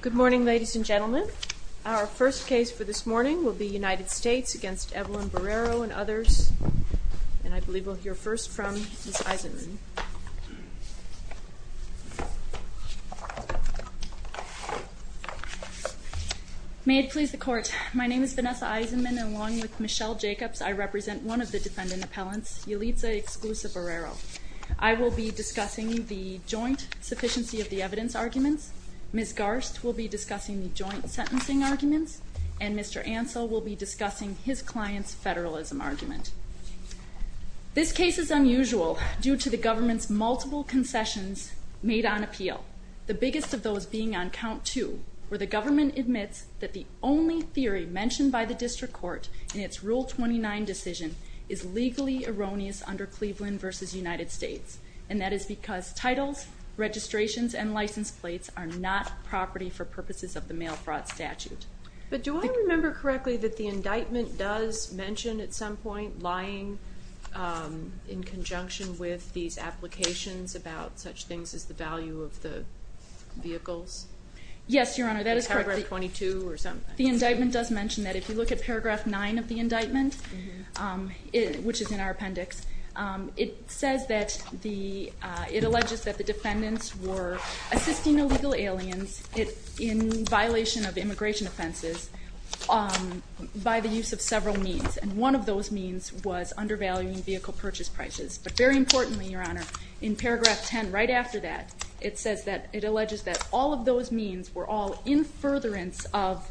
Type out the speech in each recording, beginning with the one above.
Good morning ladies and gentlemen. Our first case for this morning will be United States against Evelyn Borrero and others, and I believe we'll hear first from Ms. Eisenman. May it please the court, my name is Vanessa Eisenman and along with Michelle Jacobs I represent one of the defendant appellants, Yalitza Exclusa Borrero. I will be discussing the joint sufficiency of the evidence arguments, Ms. Garst will be discussing the joint sentencing arguments, and Mr. Ansell will be discussing his client's federalism argument. This case is unusual due to the government's multiple concessions made on appeal, the biggest of those being on count two, where the government admits that the only theory mentioned by the district court in its rule 29 decision is legally erroneous under Cleveland versus United States, and that is because titles, registrations, and license plates are not property for purposes of the mail fraud statute. But do I remember correctly that the indictment does mention at some point lying in conjunction with these applications about such things as the value of the vehicles? Yes your honor, that is correct. Paragraph 22 or something? The indictment does mention that. If you look at paragraph 9 of the indictment, which is in our assisting illegal aliens in violation of immigration offenses by the use of several means, and one of those means was undervaluing vehicle purchase prices. But very importantly your honor, in paragraph 10 right after that, it says that it alleges that all of those means were all in furtherance of,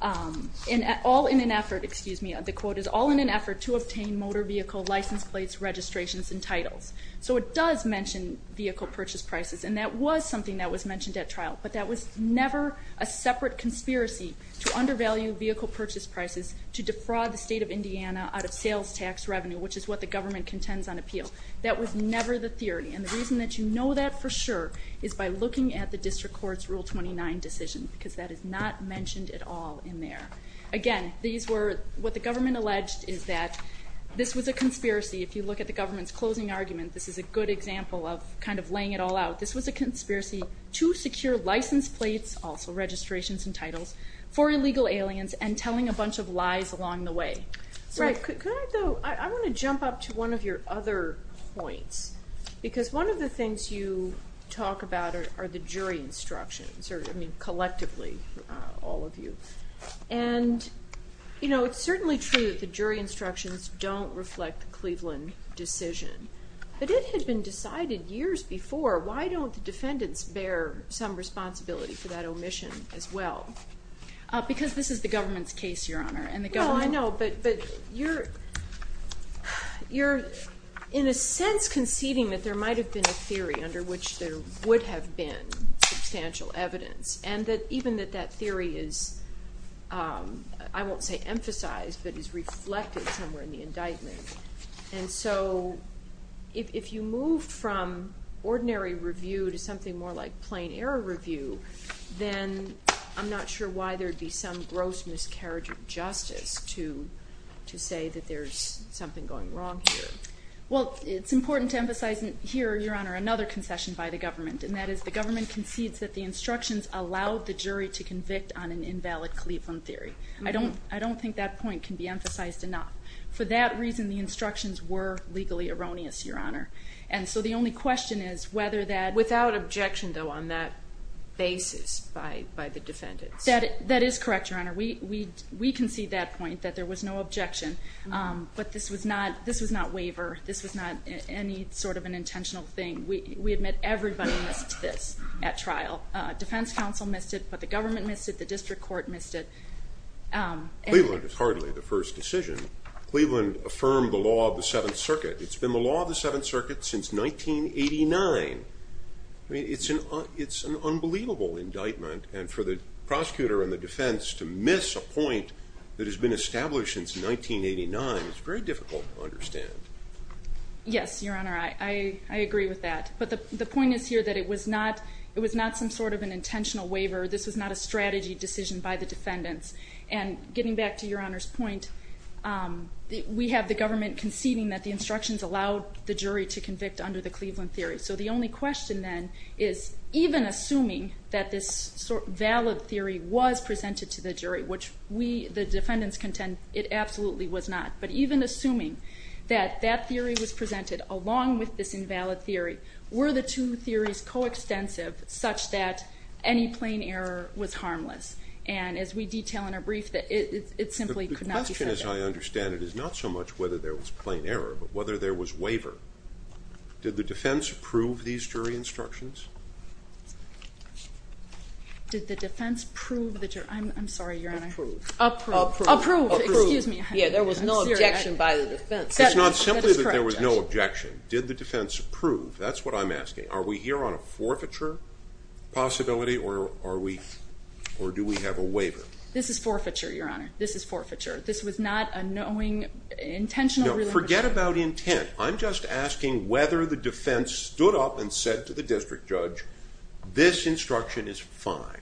all in an effort, excuse me, the quote is all in an effort to obtain motor vehicle license plates, registrations, and titles. So it does mention vehicle purchase prices, and that was something that was mentioned at trial, but that was never a separate conspiracy to undervalue vehicle purchase prices to defraud the state of Indiana out of sales tax revenue, which is what the government contends on appeal. That was never the theory, and the reason that you know that for sure is by looking at the district courts rule 29 decision, because that is not mentioned at all in there. Again, these were what the government alleged is that this was a conspiracy. If you look at the government's closing argument, this is a good example of kind of laying it all out. This was a conspiracy to secure license plates, also registrations and titles, for illegal aliens and telling a bunch of lies along the way. Right, I want to jump up to one of your other points, because one of the things you talk about are the jury instructions, or I mean collectively all of you, and you know it's certainly true that the jury instructions don't reflect the Cleveland decision, but it had been decided years before. Why don't the defendants bear some responsibility for that omission as well? Because this is the government's case, Your Honor, and the government... No, I know, but you're in a sense conceding that there might have been a theory under which there would have been substantial evidence, and even that that theory is, I won't say emphasized, but is reflected somewhere in the indictment. And so if you move from ordinary review to something more like plain error review, then I'm not sure why there'd be some gross miscarriage of justice to say that there's something going wrong here. Well, it's important to emphasize here, Your Honor, another concession by the government, and that is the government concedes that the instructions allowed the jury to convict on an invalid Cleveland theory. I don't think that point can be emphasized enough. For that reason, the instructions were legally erroneous, Your Honor. And so the only question is whether that... Without objection, though, on that basis by the defendants. That is correct, Your Honor. We concede that point, that there was no objection, but this was not waiver. This was not any sort of an at trial. Defense counsel missed it, but the government missed it, the district court missed it. Cleveland is hardly the first decision. Cleveland affirmed the law of the Seventh Circuit. It's been the law of the Seventh Circuit since 1989. I mean, it's an unbelievable indictment, and for the prosecutor and the defense to miss a point that has been established since 1989, it's very difficult to understand. Yes, Your Honor, I agree with that. But the point is here that it was not some sort of an intentional waiver. This was not a strategy decision by the defendants. And getting back to Your Honor's point, we have the government conceding that the instructions allowed the jury to convict under the Cleveland theory. So the only question, then, is even assuming that this valid theory was presented to the jury, which the defendants contend it absolutely was not, but even assuming that that theory was presented along with this invalid theory, were the two theories coextensive such that any plain error was harmless? And as we detail in a brief, that it simply could not be said that way. The question, as I understand it, is not so much whether there was plain error, but whether there was waiver. Did the defense approve these jury instructions? Did the defense prove the jury? I'm sorry, Your Honor. Approved. Approved. Approved. Yeah, there was no objection by the defense. It's not simply that there was no objection. Did the defense approve? That's what I'm asking. Are we here on a forfeiture possibility, or are we, or do we have a waiver? This is forfeiture, Your Honor. This is forfeiture. This was not a knowing, intentional... Forget about intent. I'm just asking whether the defense stood up and said to the district judge, this instruction is fine.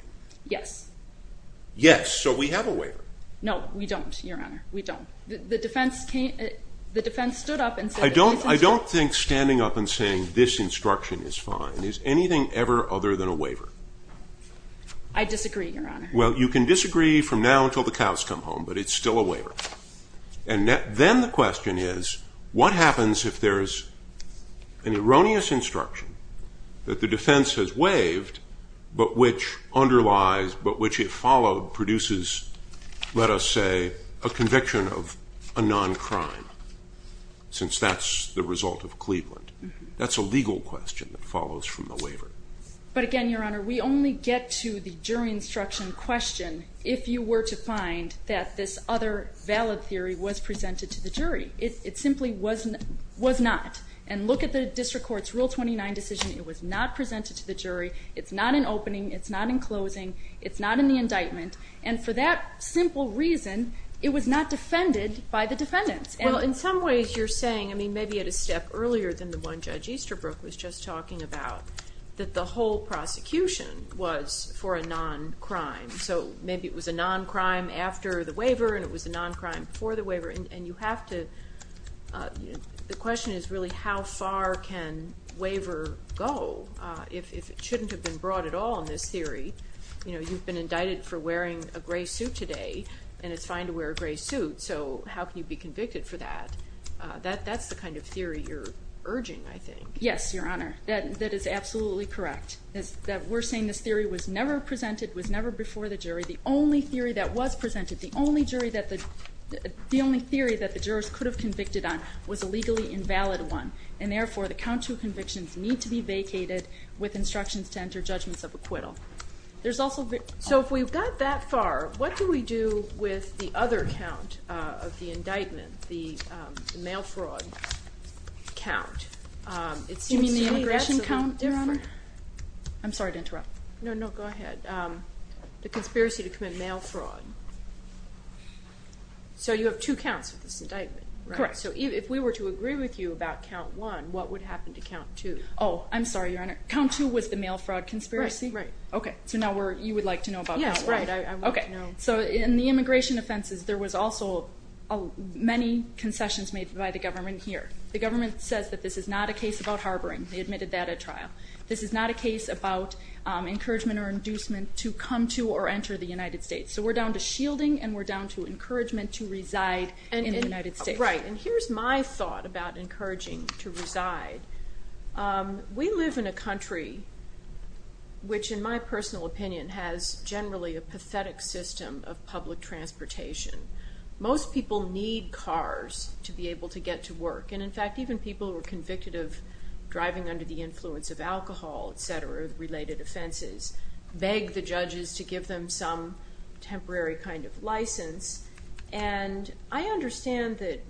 Yes. Yes. So we have a waiver. No, we The defense stood up and said... I don't think standing up and saying this instruction is fine. Is anything ever other than a waiver? I disagree, Your Honor. Well, you can disagree from now until the cows come home, but it's still a waiver. And then the question is, what happens if there's an erroneous instruction that the defense has waived, but which underlies, but which if followed, produces, let us say, a conviction of a non-crime, since that's the result of Cleveland? That's a legal question that follows from the waiver. But again, Your Honor, we only get to the jury instruction question if you were to find that this other valid theory was presented to the jury. It simply was not. And look at the district court's Rule 29 decision. It was not presented to the jury. It's not in opening. It's not in closing. It's not in the indictment. And for that simple reason, it was not defended by the defendants. Well, in some ways, you're saying, I mean, maybe at a step earlier than the one Judge Easterbrook was just talking about, that the whole prosecution was for a non-crime. So maybe it was a non-crime after the waiver, and it was a non-crime before the waiver. And the question is really, how far can waiver go if it shouldn't have been brought at all in this theory? You know, you've been indicted for wearing a gray suit today, and it's fine to wear a gray suit. So how can you be convicted for that? That's the kind of theory you're urging, I think. Yes, Your Honor, that is absolutely correct. We're saying this theory was never presented, was never before the jury. The only theory that was presented, the only theory that the jurors could have convicted on was a legally invalid one. And therefore, the count to convictions need to be vacated with instructions to enter judgments of acquittal. So if we've got that far, what do we do with the other count of the indictment, the mail fraud count? You mean the immigration count, Your Honor? I'm sorry to interrupt. No, no, go ahead. The conspiracy to commit mail fraud. So you have two counts with this indictment? Correct. So if we were to agree with you about count one, what would happen to count two? Oh, I'm sorry, Your Honor. Count two was the mail fraud conspiracy? Right. Okay, so now you would like to know about count one? Yes, I would like to know. So in the immigration offenses, there was also many concessions made by the government here. The government says that this is not a case about harboring. They admitted that at trial. This is not a case about encouragement or inducement to come to or enter the United States. So we're down to shielding and we're down to encouragement to reside in the United States. Right, and here's my thought about encouraging to reside. We live in a country which, in my personal opinion, has generally a pathetic system of public transportation. Most people need cars to be able to get to work. And in fact, even people who are convicted of driving under the influence of alcohol, et cetera, related offenses, beg the judges to give them some temporary kind of license. And I understand that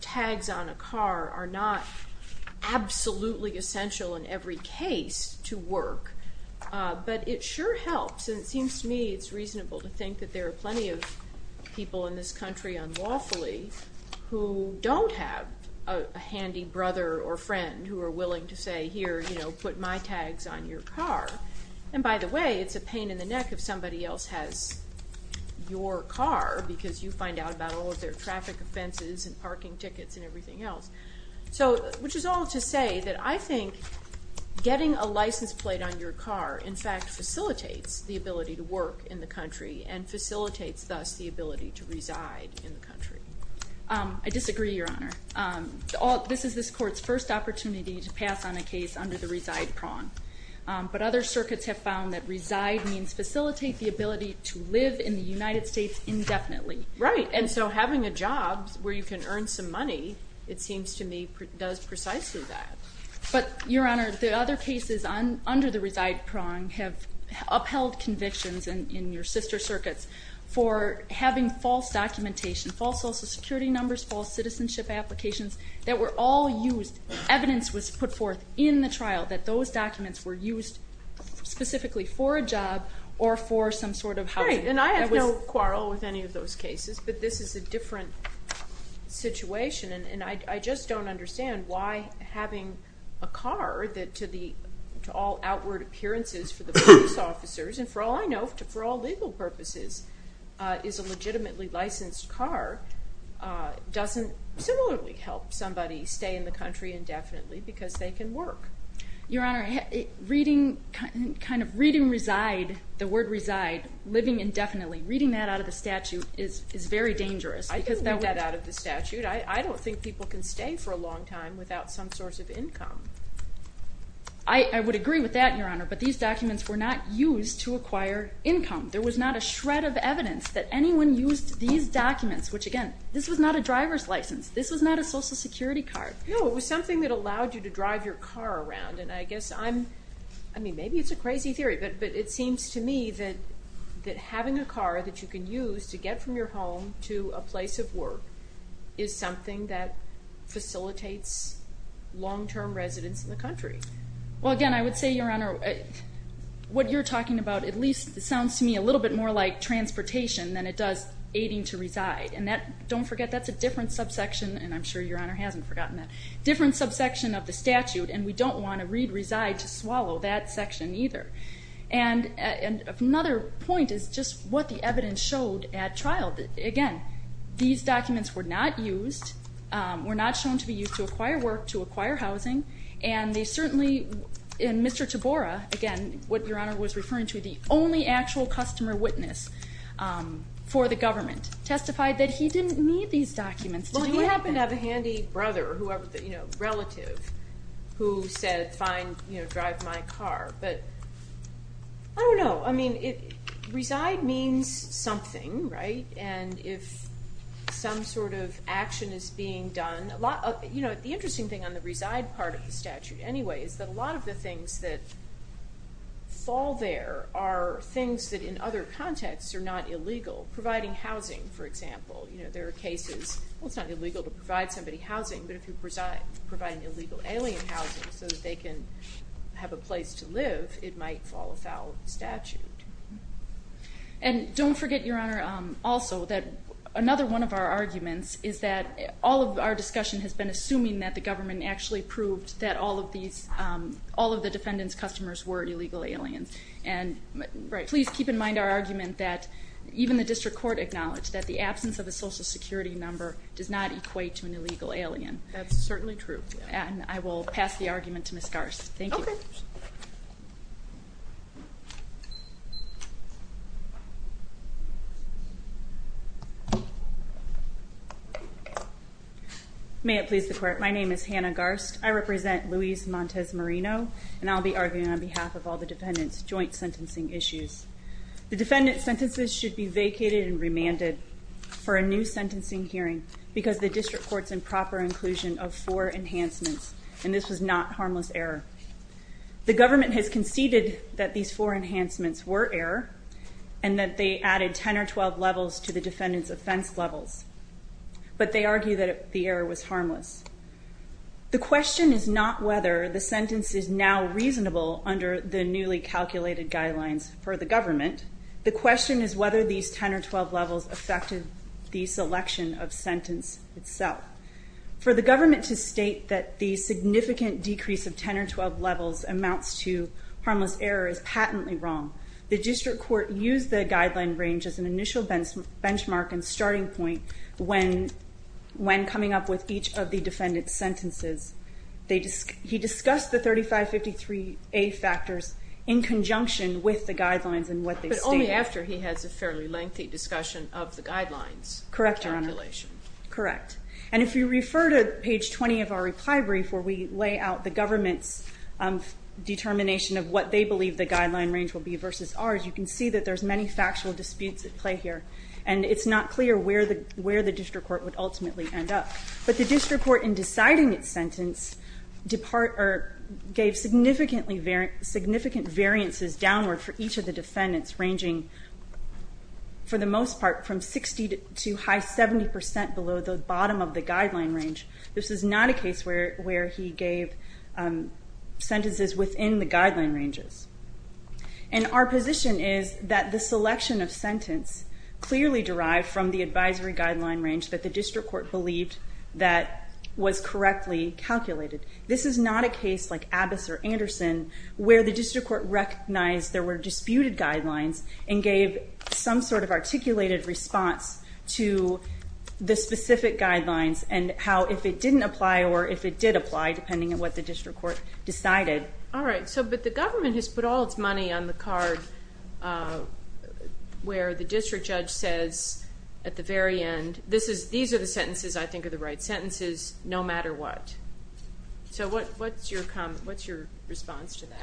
tags on a car are not absolutely essential in every case to work, but it sure helps. And it seems to me it's reasonable to think that there are plenty of people in this country unlawfully who don't have a handy brother or friend who are willing to say, here, put my tags on your car. And by the way, it's a pain in the neck if somebody else has your car because you find out about all of their traffic offenses and parking tickets and everything else. So, which is all to say that I think getting a license plate on your car in fact facilitates the ability to work in the country and facilitates thus the ability to reside in the country. I disagree, Your Honor. This is this court's first opportunity to pass on a case under the reside prong. But other circuits have found that reside means facilitate the ability to live in the United States indefinitely. Right. And so having a job where you can earn some money it seems to me does precisely that. But, Your Honor, the other cases under the reside prong have upheld convictions in your sister circuits for having false documentation, false social security numbers, false citizenship applications that were all used evidence was put forth in the trial that those documents were used specifically for a job or for some sort of housing. And I have no quarrel with any of those cases, but this is a different situation and I just don't understand why having a car that to the, to all outward appearances for the police officers and for all I know for all legal purposes is a legitimately licensed car doesn't similarly help somebody stay in the country indefinitely because they can work. Your Honor, reading, kind of reading reside the word reside, living indefinitely, reading that out of the statute is very dangerous. I can read that out of the statute. I don't think people can stay for a long time without some source of income. I would agree with that, Your Honor, but these documents were not used to acquire income. There was not a shred of evidence that anyone used these documents, which again this was not a driver's license. This was not a social security card. No, it was something that allowed you to drive your car around and I guess I'm, I mean it's a crazy theory, but it seems to me that having a car that you can use to get from your home to a place of work is something that facilitates long-term residents in the country. Well again, I would say, Your Honor, what you're talking about at least sounds to me a little bit more like transportation than it does aiding to reside and that, don't forget that's a different subsection and I'm sure Your Honor hasn't forgotten that, different subsection of the statute and we don't want to reside to swallow that section either. Another point is just what the evidence showed at trial. Again, these documents were not used, were not shown to be used to acquire work, to acquire housing, and they certainly, and Mr. Tabora, again, what Your Honor was referring to, the only actual customer witness for the government testified that he didn't need these documents. Well he happened to have a handy brother or whoever, you know, relative who said fine, you know, drive my car, but I don't know, I mean, reside means something right, and if some sort of action is being done, you know, the interesting thing on the reside part of the statute anyway is that a lot of the things that fall there are things that in other contexts are not illegal. Providing housing for example, you know, there are cases, well it's not illegal to provide somebody housing but if you provide an illegal alien housing so that they can have a place to live, it might fall without statute. And don't forget, Your Honor, also that another one of our arguments is that all of our discussion has been assuming that the government actually proved that all of these, all of the defendant's customers were illegal aliens, and please keep in mind our argument that even the district court acknowledged that the absence of a social security number does not equate to an illegal alien. That's certainly true. And I will pass the argument to Ms. Garst. Thank you. May it please the court, my name is Hannah Garst, I represent Louise Montez Marino, and I'll be arguing on behalf of all the defendant's joint sentencing issues. The defendant's sentences should be vacated and remanded for a new sentencing hearing because the district court's in proper inclusion of four enhancements, and this was not harmless error. The government has conceded that these four enhancements were error and that they added 10 or 12 levels to the defendant's offense levels. But they argue that the error was harmless. The question is not whether the sentence is now reasonable under the newly calculated guidelines for the government, the question is whether these 10 or 12 levels affected the selection of sentence itself. For the government to state that the significant decrease of 10 or 12 levels amounts to harmless error is patently wrong. The district court used the guideline range as an initial benchmark and starting point when coming up with each of the defendant's sentences. He discussed the 3553A factors in conjunction with the guidelines and what they stated. But only after he has a fairly lengthy discussion of the guidelines. Correct, Your Honor. Calculation. Correct. And if you refer to page 20 of our reply brief where we lay out the government's determination of what they believe the guideline range will be versus ours, you can see that there's many factual disputes at play here, and it's not clear where the district court would ultimately end up. But the district court in deciding its sentence gave significant variances downward for each of the defendants ranging for the most part from 60 to high 70% below the bottom of the guideline range. This is not a case where he gave sentences within the guideline ranges. And our position is that the selection of sentence clearly derived from the advisory guideline range that the district court believed that was correctly calculated. This is not a case like Abbas or Anderson where the district court recognized there were disputed guidelines and gave some sort of articulated response to the specific guidelines and how if it didn't apply or if it did apply depending on what the district court decided. But the government has put all its money on the card where the district judge says at the very end, these are the sentences I think are the right sentences no matter what. So what's your response to that?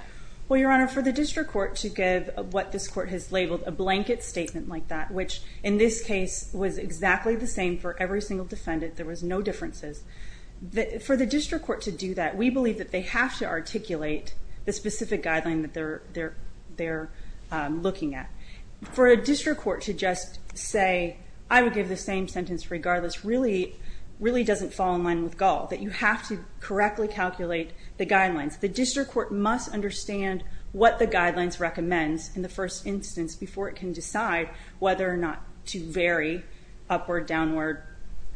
Well your honor, for the district court to give what this court has labeled a blanket statement like that, which in this case was exactly the same for every single defendant, there was no differences. For the district court to do that we believe that they have to articulate the specific guideline that they're looking at. For a district court to just say I would give the same sentence regardless really doesn't fall in line with Gaul. That you have to correctly calculate the guidelines. The district court must understand what the guidelines recommend in the first instance before it can decide whether or not to vary upward, downward,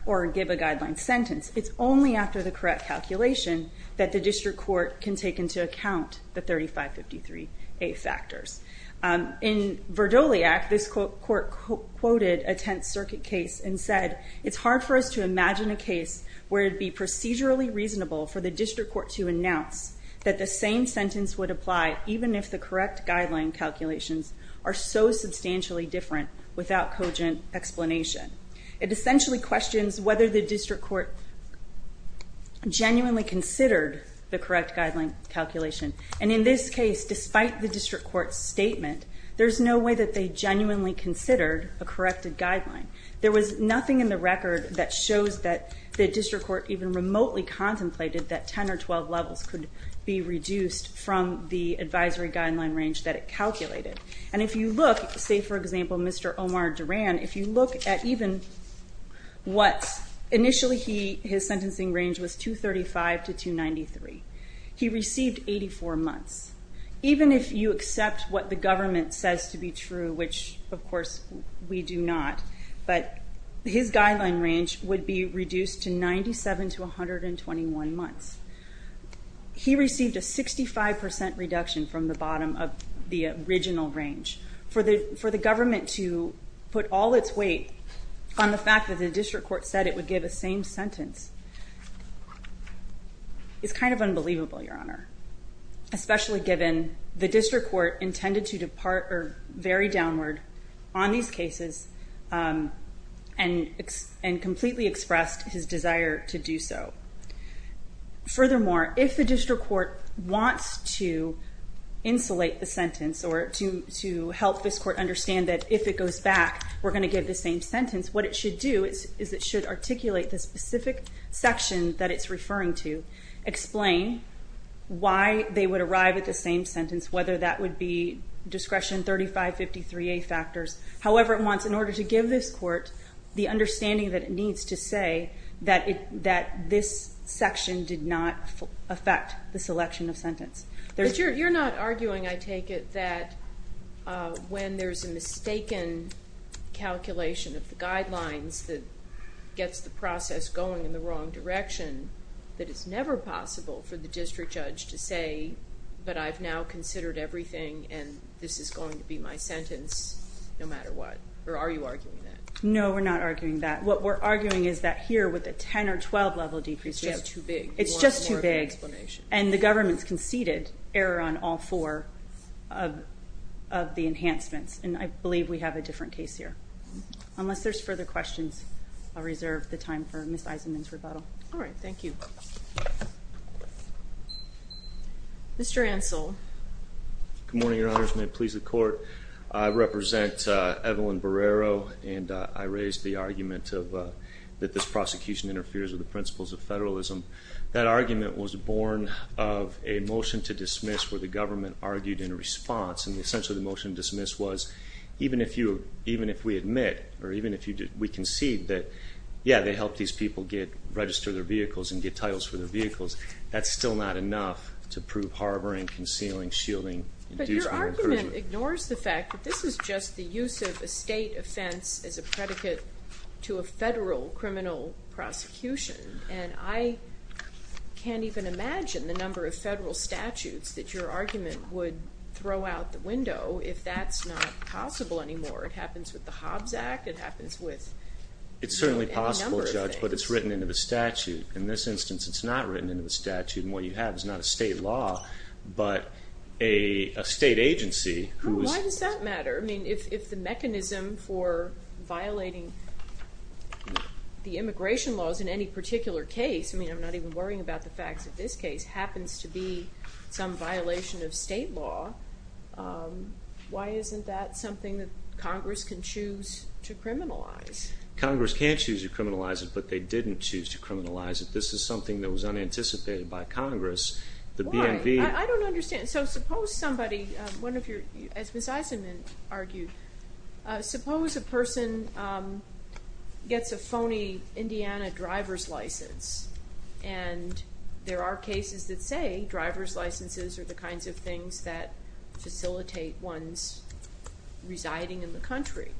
or give a guideline sentence. It's only after the correct calculation that the district court can take into account the 3553A factors. In Verdoliak this court quoted a Tenth Circuit case and said, it's hard for us to imagine a case where it would be procedurally reasonable for the district court to announce that the same sentence would apply even if the correct guideline calculations are so substantially different without cogent explanation. It essentially questions whether the district court genuinely considered the correct guideline calculation. And in this case, despite the district court's statement, there's no way that they genuinely considered a corrected guideline. There was nothing in the record that shows that the district court even remotely contemplated that 10 or 12 levels could be reduced from the advisory guideline range that it calculated. And if you look, say for example, Mr. Omar Duran, if you look at even what, initially his sentencing range was 235 to 293. He received 84 months. Even if you accept what the government says to be true, which of course we do not, but his guideline range would be reduced to 97 to 121 months. He received a 65% reduction from the bottom of the original range. For the government to put all its weight on the fact that the district court said it would give a same sentence is kind of unbelievable, Your Honor. Especially given the very downward on these cases and completely expressed his desire to do so. Furthermore, if the district court wants to insulate the sentence or to help this court understand that if it goes back, we're going to give the same sentence, what it should do is it should articulate the specific section that it's referring to explain why they would arrive at the same sentence, whether that would be discretion 3553A factors, however it wants in order to give this court the understanding that it needs to say that this section did not affect the selection of sentence. But you're not arguing, I take it, that when there's a mistaken calculation of the guidelines that gets the process going in the wrong direction, that it's never possible for the district judge to say but I've now considered everything and this is going to be my sentence no matter what. Or are you arguing that? No, we're not arguing that. What we're arguing is that here with a 10 or 12 level decrease, it's just too big. And the government's conceded error on all four of the enhancements. And I believe we have a different case here. Unless there's further questions, I'll reserve the time for Ms. Eisenman's rebuttal. Alright, thank you. Mr. Ansell. Good morning, Your Honors. May it please the court. I represent Evelyn Barrero and I raised the argument that this prosecution interferes with the principles of federalism. That argument was born of a motion to dismiss where the government argued in response. And essentially the motion to dismiss was even if we admit or even if we concede that yeah, they helped these people register their vehicles and get titles for their vehicles. That's still not enough to prove harboring, concealing, shielding But your argument ignores the fact that this is just the use of a state offense as a predicate to a federal criminal prosecution. And I can't even imagine the number of federal statutes that your argument would throw out the window if that's not possible anymore. It happens with the Hobbs Act, it happens with any number of things. It's certainly possible, Judge, but it's written into the statute. In this instance it's not written into the statute and what you have is not a state law but a state agency. Why does that matter? I mean if the mechanism for violating the immigration laws in any particular case, I mean I'm not even worrying about the facts of this case, happens to be some violation of state law, why isn't that something that Congress can choose to criminalize? Congress can choose to criminalize it but they didn't choose to criminalize it. This is something that was unanticipated by Congress Why? I don't understand. So suppose somebody as Ms. Eisenman argued, suppose a person gets a phony Indiana driver's license and there are cases that say driver's licenses are the kinds of things that facilitate one's residing in the country.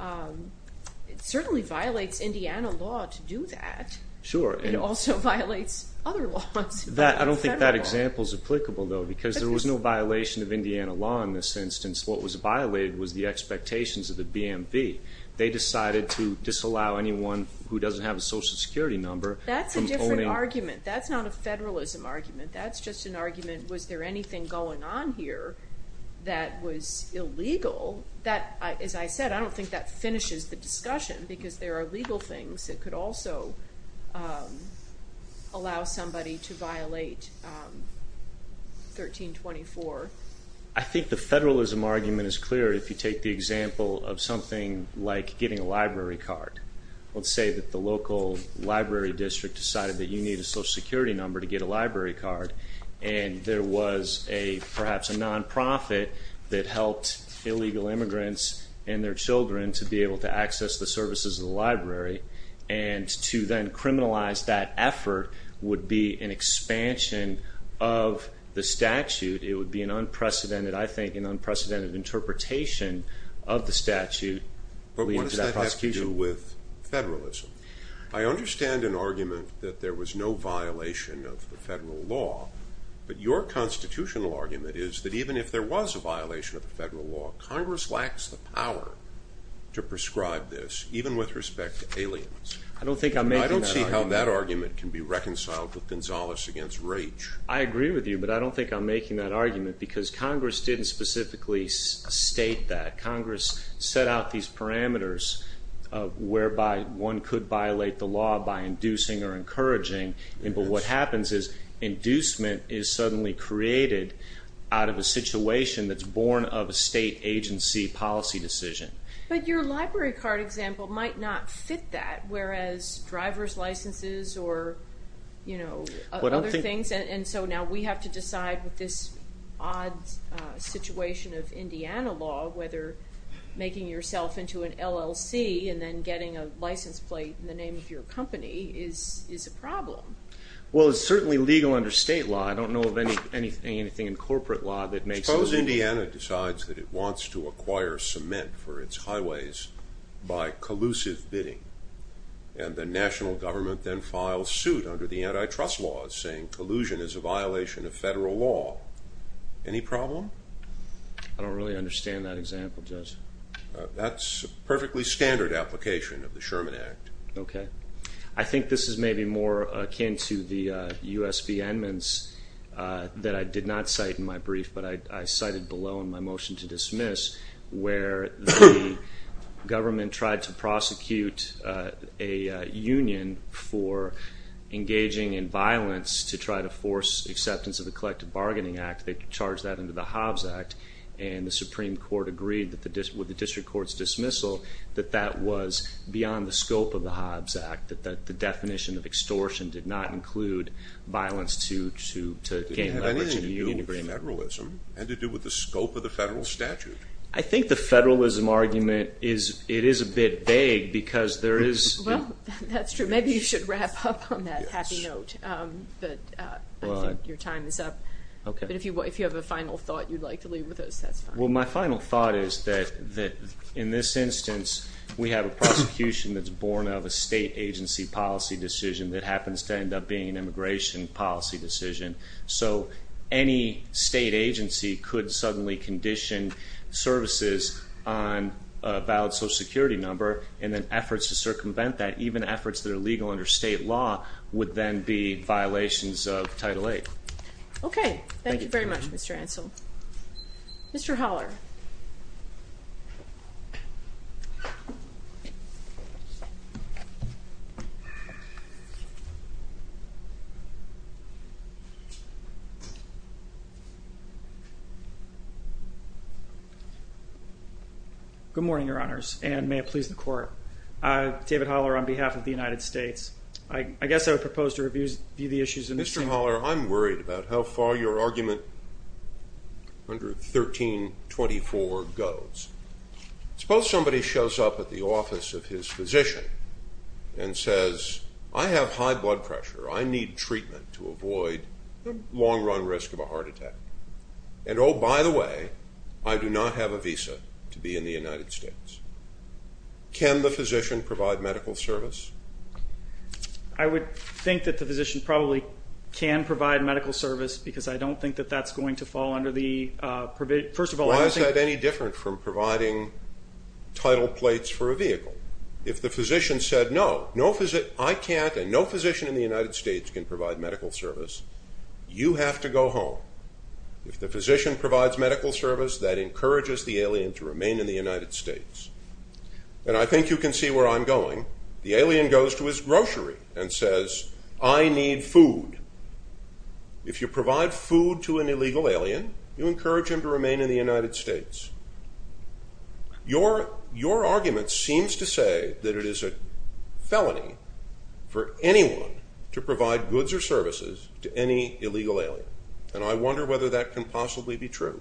It certainly violates Indiana law to do that. Sure. It also violates other laws. I don't think that example is applicable though because there was no violation of Indiana law in this instance. What was violated was the expectations of the BMV. They decided to disallow anyone who doesn't have a social security number That's a different argument. That's not a federalism argument. That's just an argument was there anything going on here that was illegal? As I said, I don't think that finishes the discussion because there are legal things that could also allow somebody to violate 1324. I think the federalism argument is clear if you take the example of something like getting a library card. Let's say that the local library district decided that you need a social security number to get a library card and there was perhaps a nonprofit that helped illegal immigrants and their children to be able to access the services of the library and to then criminalize that effort would be an expansion of the statute. It would be an unprecedented, I think, an unprecedented interpretation of the statute. But what does that have to do with federalism? I understand an argument that there was no violation of the federal law, but your constitutional argument is that even if there was a violation of the federal law Congress lacks the power to prescribe this even with respect to aliens. I don't think I'm making that argument. I don't see how that argument can be reconciled with Gonzalez against Raich. I agree with you, but I don't think I'm making that argument because Congress didn't specifically state that. Congress set out these parameters whereby one could violate the law by inducing or encouraging, but what happens is inducement is suddenly created out of a situation that's born of a state agency policy decision. But your library card example might not fit that, whereas driver's licenses or other things, and so now we have to decide with this odd situation of Indiana law whether making yourself into an LLC and then getting a license plate in the name of your company is a problem. Well, it's certainly legal under state law. I don't know of anything in corporate law that makes it legal. Suppose Indiana decides that it wants to acquire cement for its highways by collusive bidding and the national government then files suit under the antitrust laws saying collusion is a violation of federal law. Any problem? I don't really understand that example, Judge. That's a perfectly standard application of the Sherman Act. Okay. I think this is maybe more akin to the U.S. v. Edmonds that I did not cite in my brief, but I cited below in my motion to dismiss where the government tried to prosecute a union for engaging in violence to try to force acceptance of the Collective Bargaining Act. They charged that into the Hobbs Act and the Supreme Court agreed with the district court's dismissal that that was beyond the scope of the Hobbs Act, that the definition of extortion did not include violence to gain leverage in the union agreement. It had nothing to do with federalism. It had to do with the scope of the federal statute. I think the federalism argument is a bit vague because there is... Well, that's true. Maybe you should wrap up on that happy note. I think your time is up. Okay. But if you have a final thought you'd like to leave with us, that's fine. Well, my final thought is that in this instance, we have a prosecution that's born of a state agency policy decision that happens to end up being an immigration policy decision, so any state agency could suddenly condition services on a valid Social Security number and then efforts to circumvent that, even efforts that are legal under state law, would then be violations of Title VIII. Okay. Thank you very much, Mr. Ansel. Mr. Holler.......... Good morning, Your Honors. And may it please the Court. David Holler on behalf of the United States. I guess I would propose to review the issues in this chamber. Mr. Holler, I'm worried about how far your argument under 1324 goes. Suppose somebody shows up at the office of his physician and says, I have high blood pressure. I need treatment to avoid the long-run risk of a heart attack. And oh, by the way, I do not have a visa to be in the United States. Can the physician provide medical service? I would think that the physician probably can provide medical service because I don't think that that's going to fall under the... Why is that any different from providing title plates for a vehicle? If the physician said, no, I can't and no physician in the United States can provide medical service, you have to go home. If the physician provides medical service that encourages the alien to remain in the United States. And I think you can see where I'm going. The alien goes to his grocery and says, I need food. If you provide food to an illegal alien, you encourage him to remain in the United States. Your argument seems to say that it is a felony for anyone to provide goods or services to any illegal alien. And I wonder whether that can possibly be true.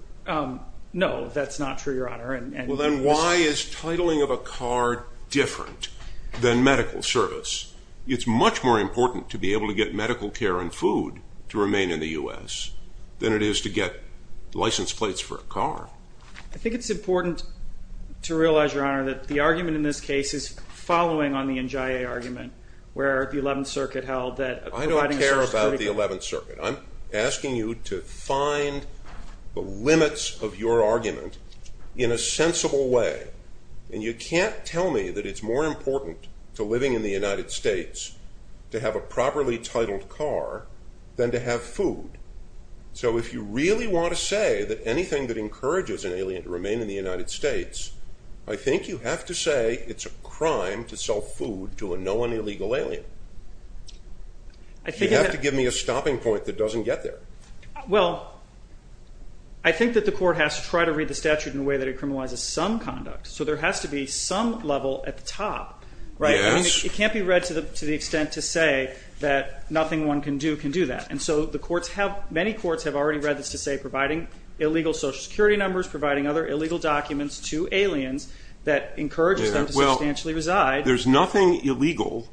No, that's not true, Your Honor. Then why is titling of a car different than medical service? It's much more important to be able to get medical care and food to remain in the U.S. than it is to get license plates for a car. I think it's important to realize, Your Honor, that the argument in this case is following on the NJIA argument, where the 11th Circuit held that... I don't care about the 11th Circuit. I'm asking you to find the limits of your argument in a sensible way. And you can't tell me that it's more important to living in the United States to have a car than to have food. So if you really want to say that anything that encourages an alien to remain in the United States, I think you have to say it's a crime to sell food to a known illegal alien. You have to give me a stopping point that doesn't get there. Well, I think that the Court has to try to read the statute in a way that it criminalizes some conduct. So there has to be some level at the top. It can't be read to the extent to say that nothing one can do can do that. Many courts have already read this to say providing illegal social security numbers, providing other illegal documents to aliens that encourages them to substantially reside. There's nothing illegal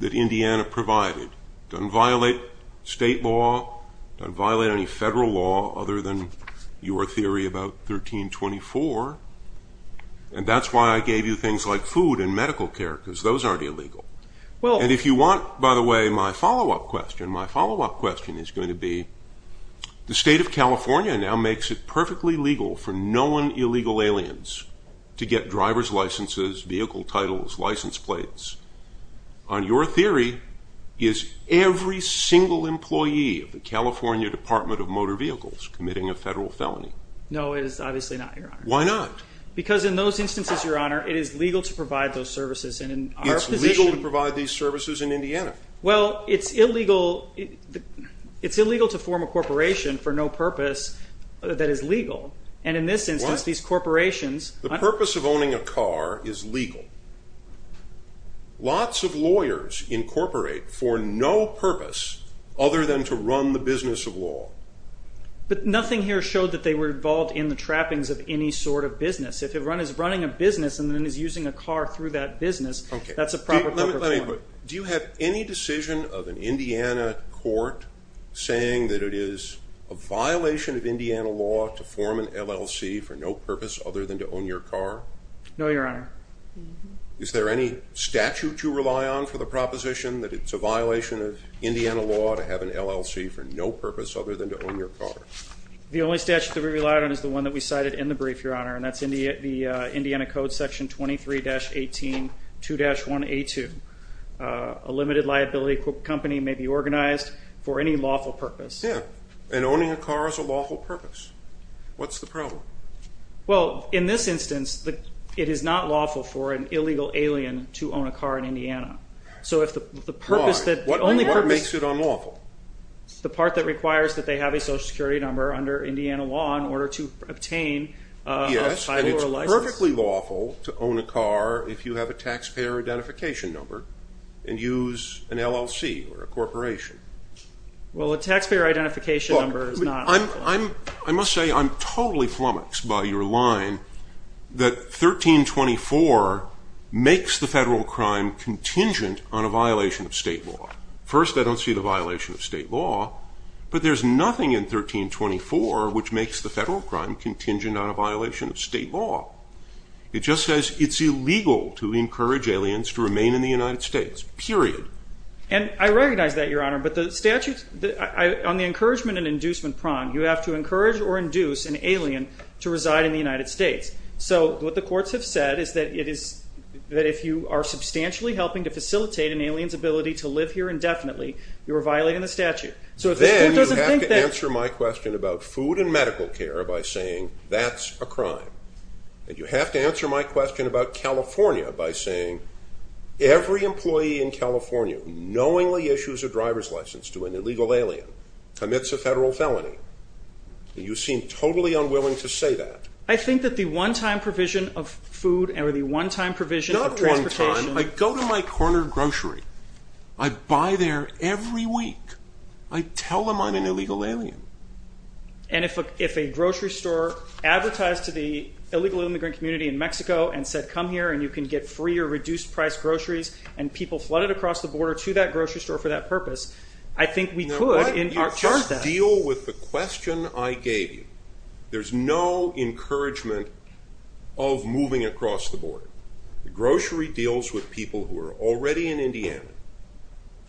that Indiana provided. It doesn't violate state law. It doesn't violate any federal law other than your theory about 1324. And that's why I gave you things like food and medical care, because those aren't illegal. And if you want, by the way, my follow-up question, my follow-up question is going to be, the state of California now makes it perfectly legal for known illegal aliens to get driver's licenses, vehicle titles, license plates. On your theory, is every single employee of the California Department of Motor Vehicles committing a federal felony? No, it is obviously not, Your Honor. Why not? Because in those instances, Your Honor, it is legal to provide those services. It's legal to provide these services in Indiana. Well, it's illegal to form a corporation for no purpose that is legal. And in this instance, these corporations The purpose of owning a car is legal. Lots of lawyers incorporate for no purpose other than to run the business of law. But nothing here showed that they were involved in the trappings of any sort of business. If it is running a business and then is using a car through that business, that's a proper corporation. Do you have any decision of an Indiana court saying that it is a violation of Indiana law to form an LLC for no purpose other than to own your car? No, Your Honor. Is there any statute you rely on for the proposition that it's a violation of Indiana law to have an LLC for no purpose other than to own your car? The only statute that we rely on is the one that we cited in the Indiana Code, Section 23-18, 2-1A2. A limited liability company may be organized for any lawful purpose. Yeah, and owning a car is a lawful purpose. What's the problem? Well, in this instance, it is not lawful for an illegal alien to own a car in Indiana. Why? What makes it unlawful? The part that requires that they have a social security number under Indiana law in order to obtain a title or a license? Yes, and it's perfectly lawful to own a car if you have a taxpayer identification number and use an LLC or a corporation. Well, a taxpayer identification number is not lawful. I must say, I'm totally flummoxed by your line that 1324 makes the federal crime contingent on a violation of state law. First, I don't see the violation of state law, but there's nothing in 1324 which makes the federal crime contingent on a violation of state law. It just says it's illegal to encourage aliens to remain in the United States. Period. And I recognize that, Your Honor, but the statute on the encouragement and inducement prong, you have to encourage or induce an alien to reside in the United States. So, what the courts have said is that if you are substantially helping to facilitate an alien's ability to live here indefinitely, you are violating the statute. Then, you have to answer my question about food and medical care by saying that's a crime. And you have to answer my question about California by saying every employee in California knowingly issues a driver's license to an illegal alien commits a federal felony. And you seem totally unwilling to say that. I think that the one-time provision of food or the one-time provision Not one time. I go to my corner grocery. I buy there every week. I tell them I'm an illegal alien. And if a grocery store advertised to the illegal immigrant community in Mexico and said come here and you can get free or reduced price groceries and people flooded across the border to that grocery store for that purpose I think we could in our terms then. You just deal with the question I gave you. There's no encouragement of moving across the border. Grocery deals with people who are already in Indiana.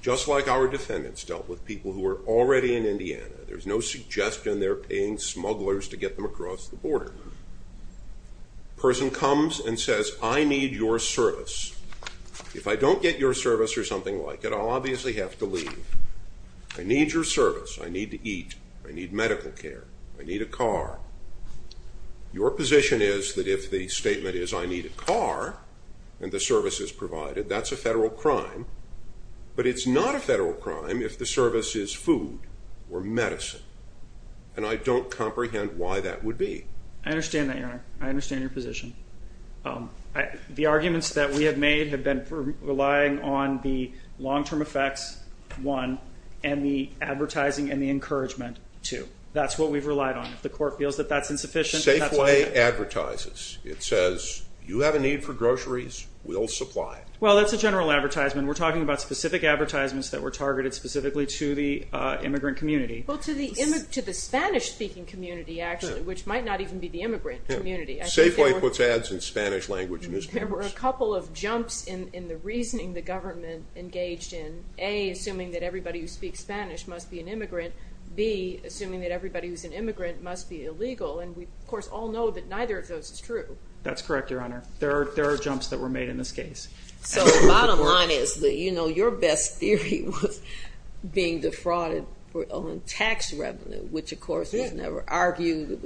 Just like our defendants dealt with people who were already in Indiana. There's no suggestion they're paying smugglers to get them across the border. A person comes and says I need your service. If I don't get your service or something like it I'll obviously have to leave. I need your service. I need to eat. I need medical care. I need a car. Your position is that if the statement is I need a car and the service is provided that's a federal crime but it's not a federal crime if the service is food or medicine and I don't comprehend why that would be. I understand that your honor. I understand your position. The arguments that we have made have been for relying on the long term effects one and the advertising and the encouragement two. That's what we've relied on. If the court feels that that's insufficient that's why... Safeway advertises it says you have a need for groceries. We'll supply it. Well that's a general advertisement. We're talking about specific advertisements that were targeted specifically to the immigrant community. Well to the Spanish speaking community actually which might not even be the immigrant community. Safeway puts ads in Spanish language. There were a couple of jumps in the reasoning the government engaged in. A. Assuming that everybody who speaks Spanish must be an immigrant. B. Assuming that everybody who's an immigrant must be illegal and we of course all know that neither of those is true. That's correct your honor. There are jumps that were made in this case. So the bottom line is that your best theory was being defrauded on tax revenue which of course was never argued.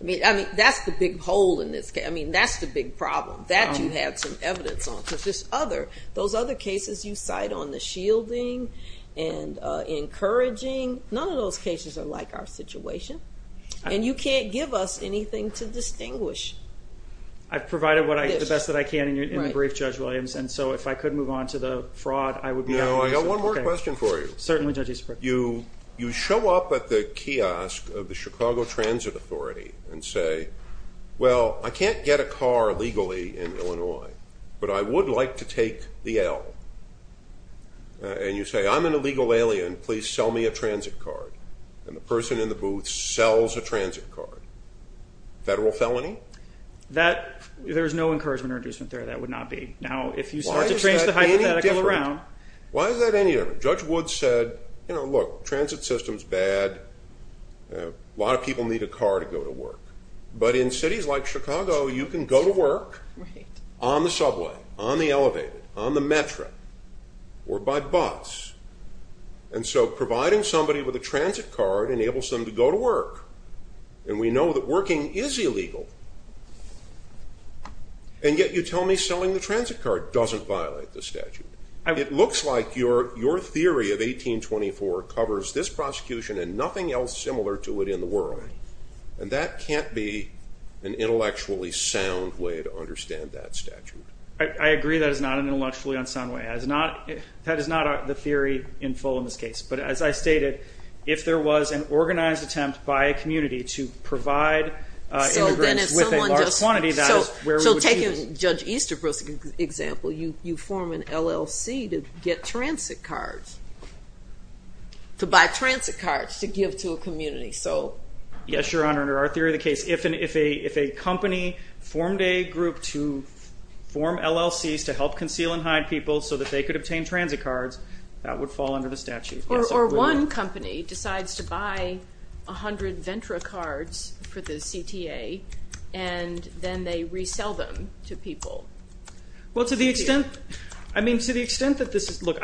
That's the big hole in this case. That's the big problem. That you have some evidence on. Those other cases you cite on the shielding and encouraging. None of those cases are like our cases. They don't give us anything to distinguish. I've provided the best that I can in the brief Judge Williams. No I've got one more question for you. You show up at the kiosk of the Chicago Transit Authority and say well I can't get a car legally in Illinois. But I would like to take the L. And you say I'm an illegal alien. Please sell me a transit card. And the person in the booth sells a transit card. Federal felony? There's no encouragement or inducement there. That would not be. Now if you start to trace the hypothetical around. Why is that any different? Judge Woods said you know look transit systems bad. A lot of people need a car to go to work. But in cities like Chicago you can go to work on the subway, on the elevator, on the metro, or by bus. And so providing somebody with a transit card enables them to go to work. And we know that working is illegal. And yet you tell me selling the transit card doesn't violate the statute. It looks like your theory of 1824 covers this prosecution and nothing else similar to it in the world. And that can't be an intellectually sound way to understand that statute. I agree that is not an intellectually sound way. That is not the theory in full in this case. But as I stated if there was an organized attempt by a community to provide immigrants with a large quantity that is where we would be. So take Judge Easterbrook's example. You form an LLC to get transit cards. To buy transit cards. To give to a community. Yes Your Honor. Under our theory of the case if a company formed a group to form LLC's to help conceal and hide people so that they could obtain transit cards that would fall under the statute. Or one company decides to buy 100 Ventra cards for the CTA and then they resell them to people. Well to the extent I mean to the extent that this is. Look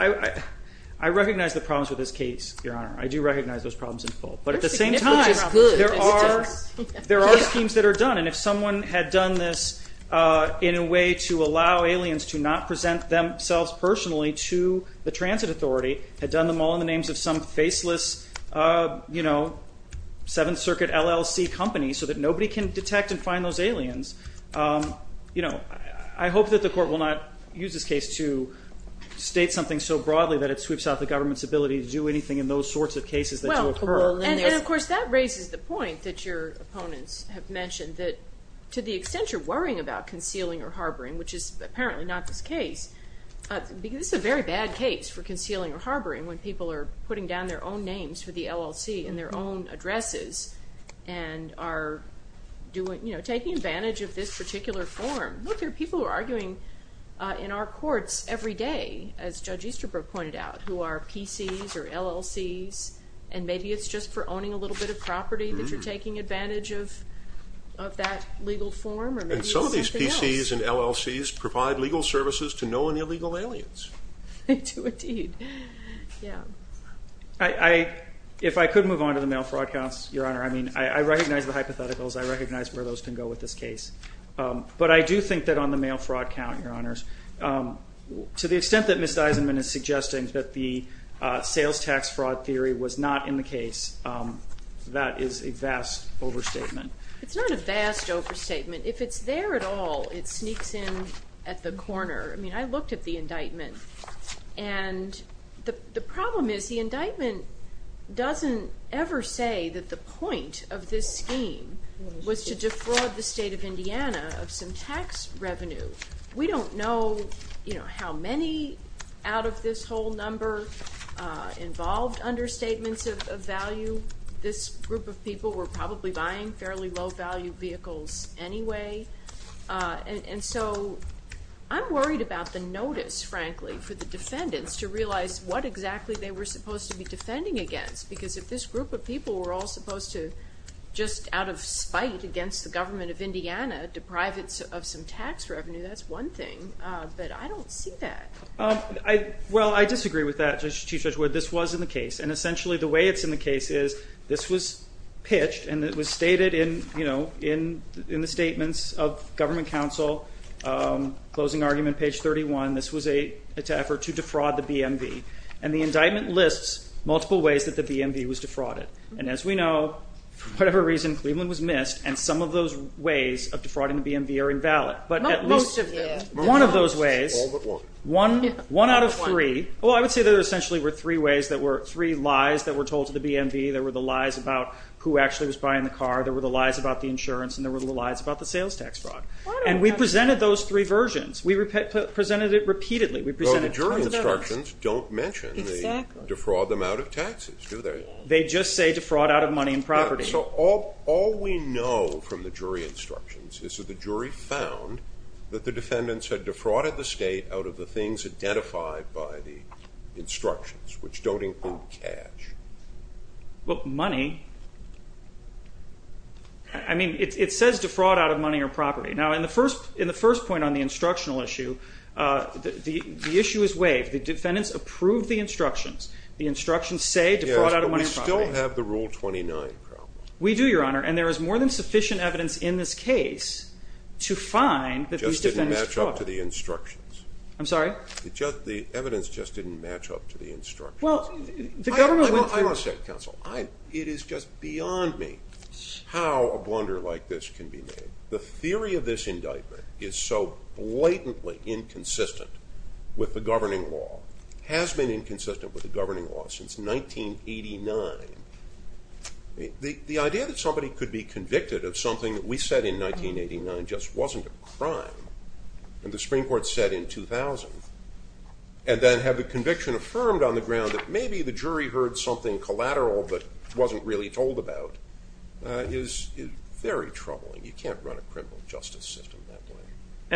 I recognize the problems with this case Your Honor. I do recognize those problems in full. But at the same time there are schemes that are done. And if someone had done this in a way to allow aliens to not present themselves personally to the transit authority. Had done them all in the names of some faceless you know 7th Circuit LLC company so that nobody can detect and find those aliens. I hope that the court will not use this case to state something so broadly that it sweeps out the government's ability to do anything in those sorts of cases that do occur. And of course that raises the point that your opponents have mentioned that to the extent you're worrying about concealing or harboring which is apparently not this case this is a very bad case for concealing or harboring when people are putting down their own names for the LLC in their own addresses and are taking advantage of this particular form. Look there are people who are arguing in our courts every day as Judge Easterbrook pointed out who are PC's or LLC's and maybe it's just for owning a little bit of property that you're taking advantage of that legal form or maybe it's something else. And some of these PC's and LLC's provide legal services to no one illegal aliens. They do indeed. Yeah. If I could move on to the mail fraud counts your honor I mean I recognize the hypotheticals I recognize where those can go with this case. But I do think that on the mail fraud count your honors to the extent that Ms. Deisman is suggesting that the sales tax fraud theory was not in the case that is a vast overstatement. It's not a vast overstatement. If it's there at all it sneaks in at the corner I mean I looked at the indictment and the problem is the indictment doesn't ever say that the point of this scheme was to defraud the state of Indiana of some tax revenue. We don't know how many out of this whole number involved understatements of value this group of people were probably buying fairly low value vehicles anyway and so I'm worried about the notice frankly for the defendants to realize what exactly they were supposed to be defending against because if this group of people were all supposed to just out of spite against the government of Indiana deprive it of some tax revenue that's one thing. But I don't see that. Well I disagree with that Chief Judge Wood. This was in the case and essentially the way it's in the case is this was pitched and it was stated in the statements of government counsel closing argument page 31 this was an effort to defraud the BMV and the indictment lists multiple ways that the BMV was defrauded and as we know for whatever reason Cleveland was missed and some of those ways of defrauding the BMV are invalid. Not most of them. One of those ways. All but one. One out of three. Well I would say there essentially were three ways that were three lies that were told to the BMV. There were the lies about who actually was buying the car. There were the lies about the insurance and there were the lies about the sales tax fraud. And we presented those three versions. We presented it repeatedly. Well the jury instructions don't mention the defraud amount of taxes do they? They just say defraud out of money and property. So all we know from the jury instructions is that the jury found that the things identified by the instructions which don't include cash. Well money I mean it says defraud out of money or property. Now in the first point on the instructional issue the issue is waived. The defendants approved the instructions. The instructions say defraud out of money and property. But we still have the rule 29 problem. We do your honor and there is more than sufficient evidence in this case to find that these defendants fraud. Just didn't match up to the instructions. I'm sorry? The evidence just didn't match up to the instructions. I want to say counsel it is just beyond me how a blunder like this can be made. The theory of this indictment is so blatantly inconsistent with the governing law. Has been inconsistent with the governing law since 1989. The idea that somebody could be convicted of something that we said in 1989 just wasn't a crime and the Supreme Court said in 2000 and then have the conviction affirmed on the ground that maybe the jury heard something collateral but wasn't really told about is very troubling. You can't run a criminal justice system that way.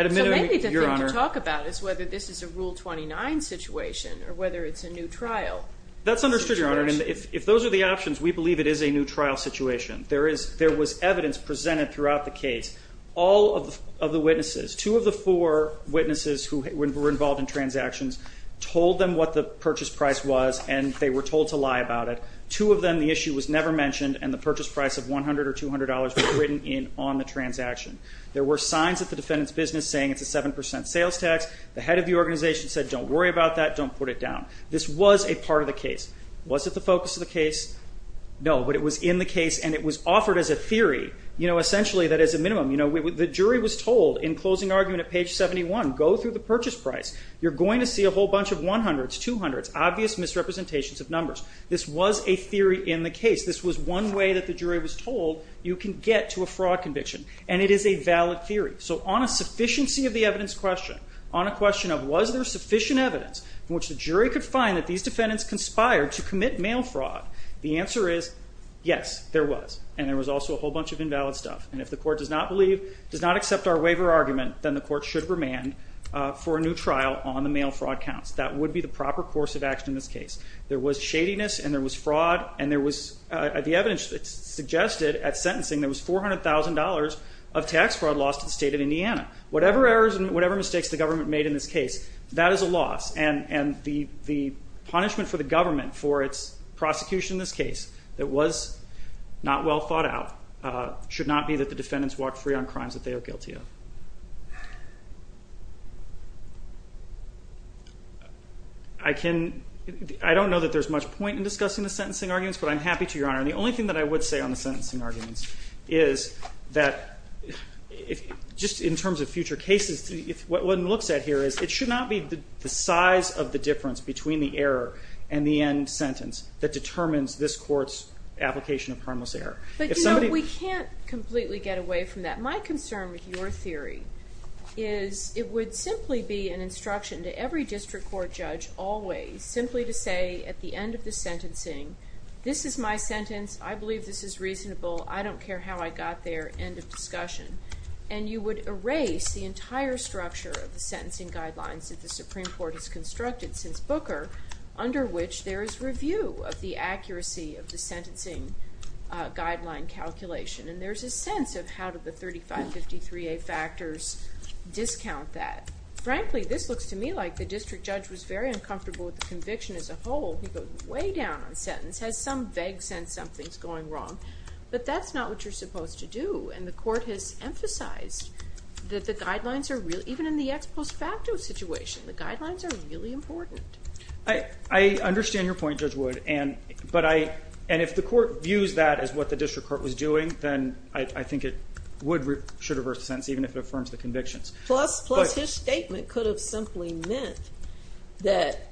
So maybe the thing to talk about is whether this is a rule 29 situation or whether it's a new trial. That's understood your honor and if those are the options we believe it is a new trial situation. There was evidence presented throughout the case. All of the witnesses, two of the four witnesses who were involved in transactions told them what the purchase price was and they were told to lie about it. Two of them the issue was never mentioned and the purchase price of $100 or $200 was written in on the transaction. There were signs at the defendant's business saying it's a 7% sales tax. The head of the organization said don't worry about that, don't put it down. This was a part of the case. Was it the focus of the case? No, but it was in the case and it was offered as a theory essentially that is a minimum. The jury was told in closing argument at page 71, go through the purchase price. You're going to see a whole bunch of 100s, 200s, obvious misrepresentations of numbers. This was a theory in the case. This was one way that the jury was told you can get to a fraud conviction and it is a valid theory. So on a sufficiency of the evidence question, on a question of was there sufficient evidence in which the jury could find that these defendants conspired to commit mail fraud, the answer is yes, there was and there was also a whole bunch of invalid stuff and if the court does not believe, does not accept our waiver argument, then the court should remand for a new trial on the mail fraud counts. That would be the proper course of action in this case. There was shadiness and there was fraud and there was, the evidence suggested at sentencing there was $400,000 of tax fraud lost to the state of Indiana. Whatever errors and whatever mistakes the government made in this case, that is a loss and the punishment for the government for its prosecution in this case that was not well thought out should not be that the defendants walk free on crimes that they are guilty of. I can, I don't know that there is much point in discussing the sentencing arguments but I'm happy to your honor. The only thing that I would say on the sentencing arguments is that just in terms of future cases, what one looks at here is it should not be the size of the difference between the error and the end sentence that determines this court's application of harmless error. But you know we can't completely get away from that. My concern with your theory is it would simply be an instruction to every district court judge always simply to say at the end of the sentencing, this is my sentence, I believe this is reasonable I don't care how I got there, end of discussion. And you would erase the entire structure of the sentencing guidelines that the Supreme Court has constructed since Booker under which there is review of the accuracy of the sentencing guideline calculation and there's a sense of how do the 3553A factors discount that. Frankly this looks to me like the district judge was very uncomfortable with the conviction as a whole. He goes way down on sentence, has some vague sense something's going wrong. But that's not what you're supposed to do and the court has emphasized that the guidelines are real even in the post facto situation, the guidelines are really important. I understand your point Judge Wood and if the court views that as what the district court was doing then I think it would reverse the sentence even if it affirms the convictions. Plus his statement could have simply meant that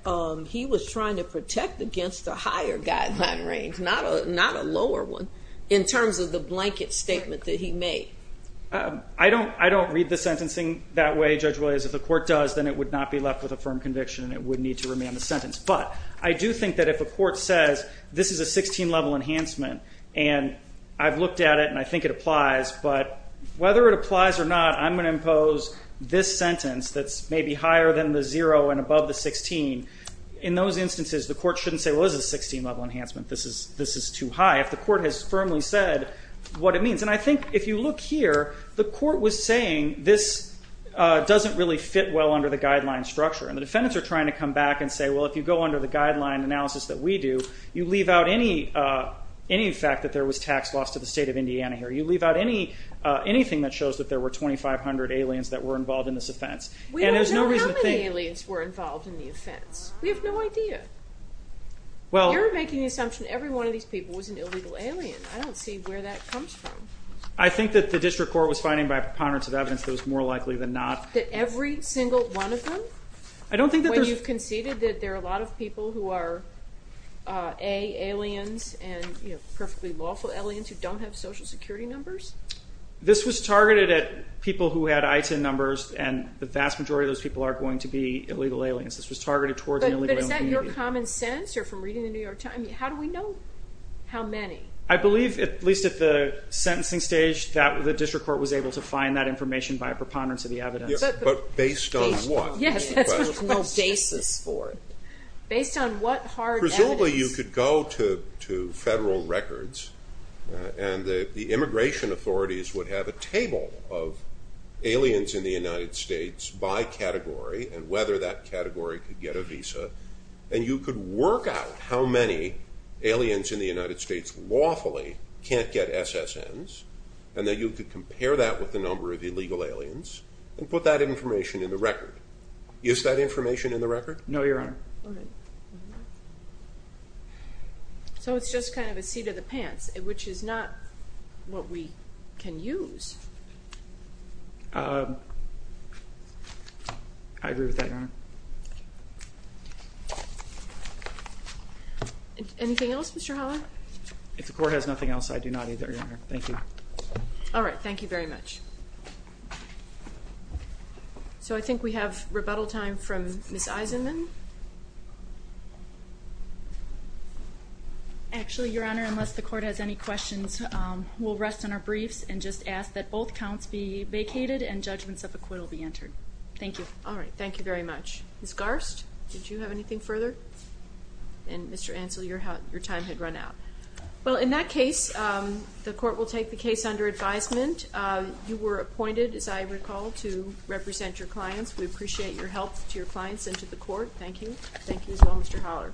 he was trying to protect against a higher guideline range, not a lower one in terms of the blanket statement that he made. I don't read the sentencing that way Judge Williams. If the court does then it would not be left with a firm conviction and it would need to remain the sentence. But I do think that if a court says this is a 16 level enhancement and I've looked at it and I think it applies but whether it applies or not I'm going to impose this sentence that's maybe higher than the 0 and above the 16 in those instances the court shouldn't say well this is a 16 level enhancement, this is too high. If the court has firmly said what it means and I think if you look here the court was saying this doesn't really fit well under the guideline structure and the defendants are trying to come back and say well if you go under the guideline analysis that we do you leave out any fact that there was tax loss to the state of Indiana here. You leave out anything that shows that there were 2,500 aliens that were involved in this offense. We don't know how many aliens were involved in the offense. We have no idea. You're making the assumption that every one of these people was an illegal alien. I don't see where that comes from. I think that the district court was finding by preponderance of evidence that it was more likely than not. That every single one of them? I don't think that you've conceded that there are a lot of people who are A, aliens and perfectly lawful aliens who don't have social security numbers? This was targeted at people who had ITIN numbers and the vast majority of those people are going to be illegal aliens. This was targeted towards an illegal alien. But is that your common sense or from reading the New York Times? How do we know how many? I believe at least at the sentencing stage that the district court was able to find that information by a preponderance of the evidence. Based on what? There was no basis for it. Based on what hard evidence? Presumably you could go to federal records and the immigration authorities would have a table of aliens in the United States by category and whether that category could get a visa and you could work out how many aliens in the United States lawfully can't get SSNs and that you could compare that with the number of illegal aliens and put that information in the record. Is that information in the record? No, Your Honor. So it's just kind of a seat of the pants, which is not I agree with that, Your Honor. Anything else, Mr. Holler? If the court has nothing else, I do not either, Your Honor. Thank you. Alright, thank you very much. So I think we have rebuttal time from Ms. Eisenman. Actually, Your Honor, unless the court has any questions, we'll rest on our briefs and just ask that both counts be vacated and judgments of acquittal be entered. Thank you. Alright, thank you very much. Ms. Garst, did you have anything further? And Mr. Ansell, your time had run out. Well, in that case, the court will take the case under advisement. You were appointed, as I recall, to represent your clients. We appreciate your help to your clients and to the court. Thank you. Thank you as well, Mr. Holler.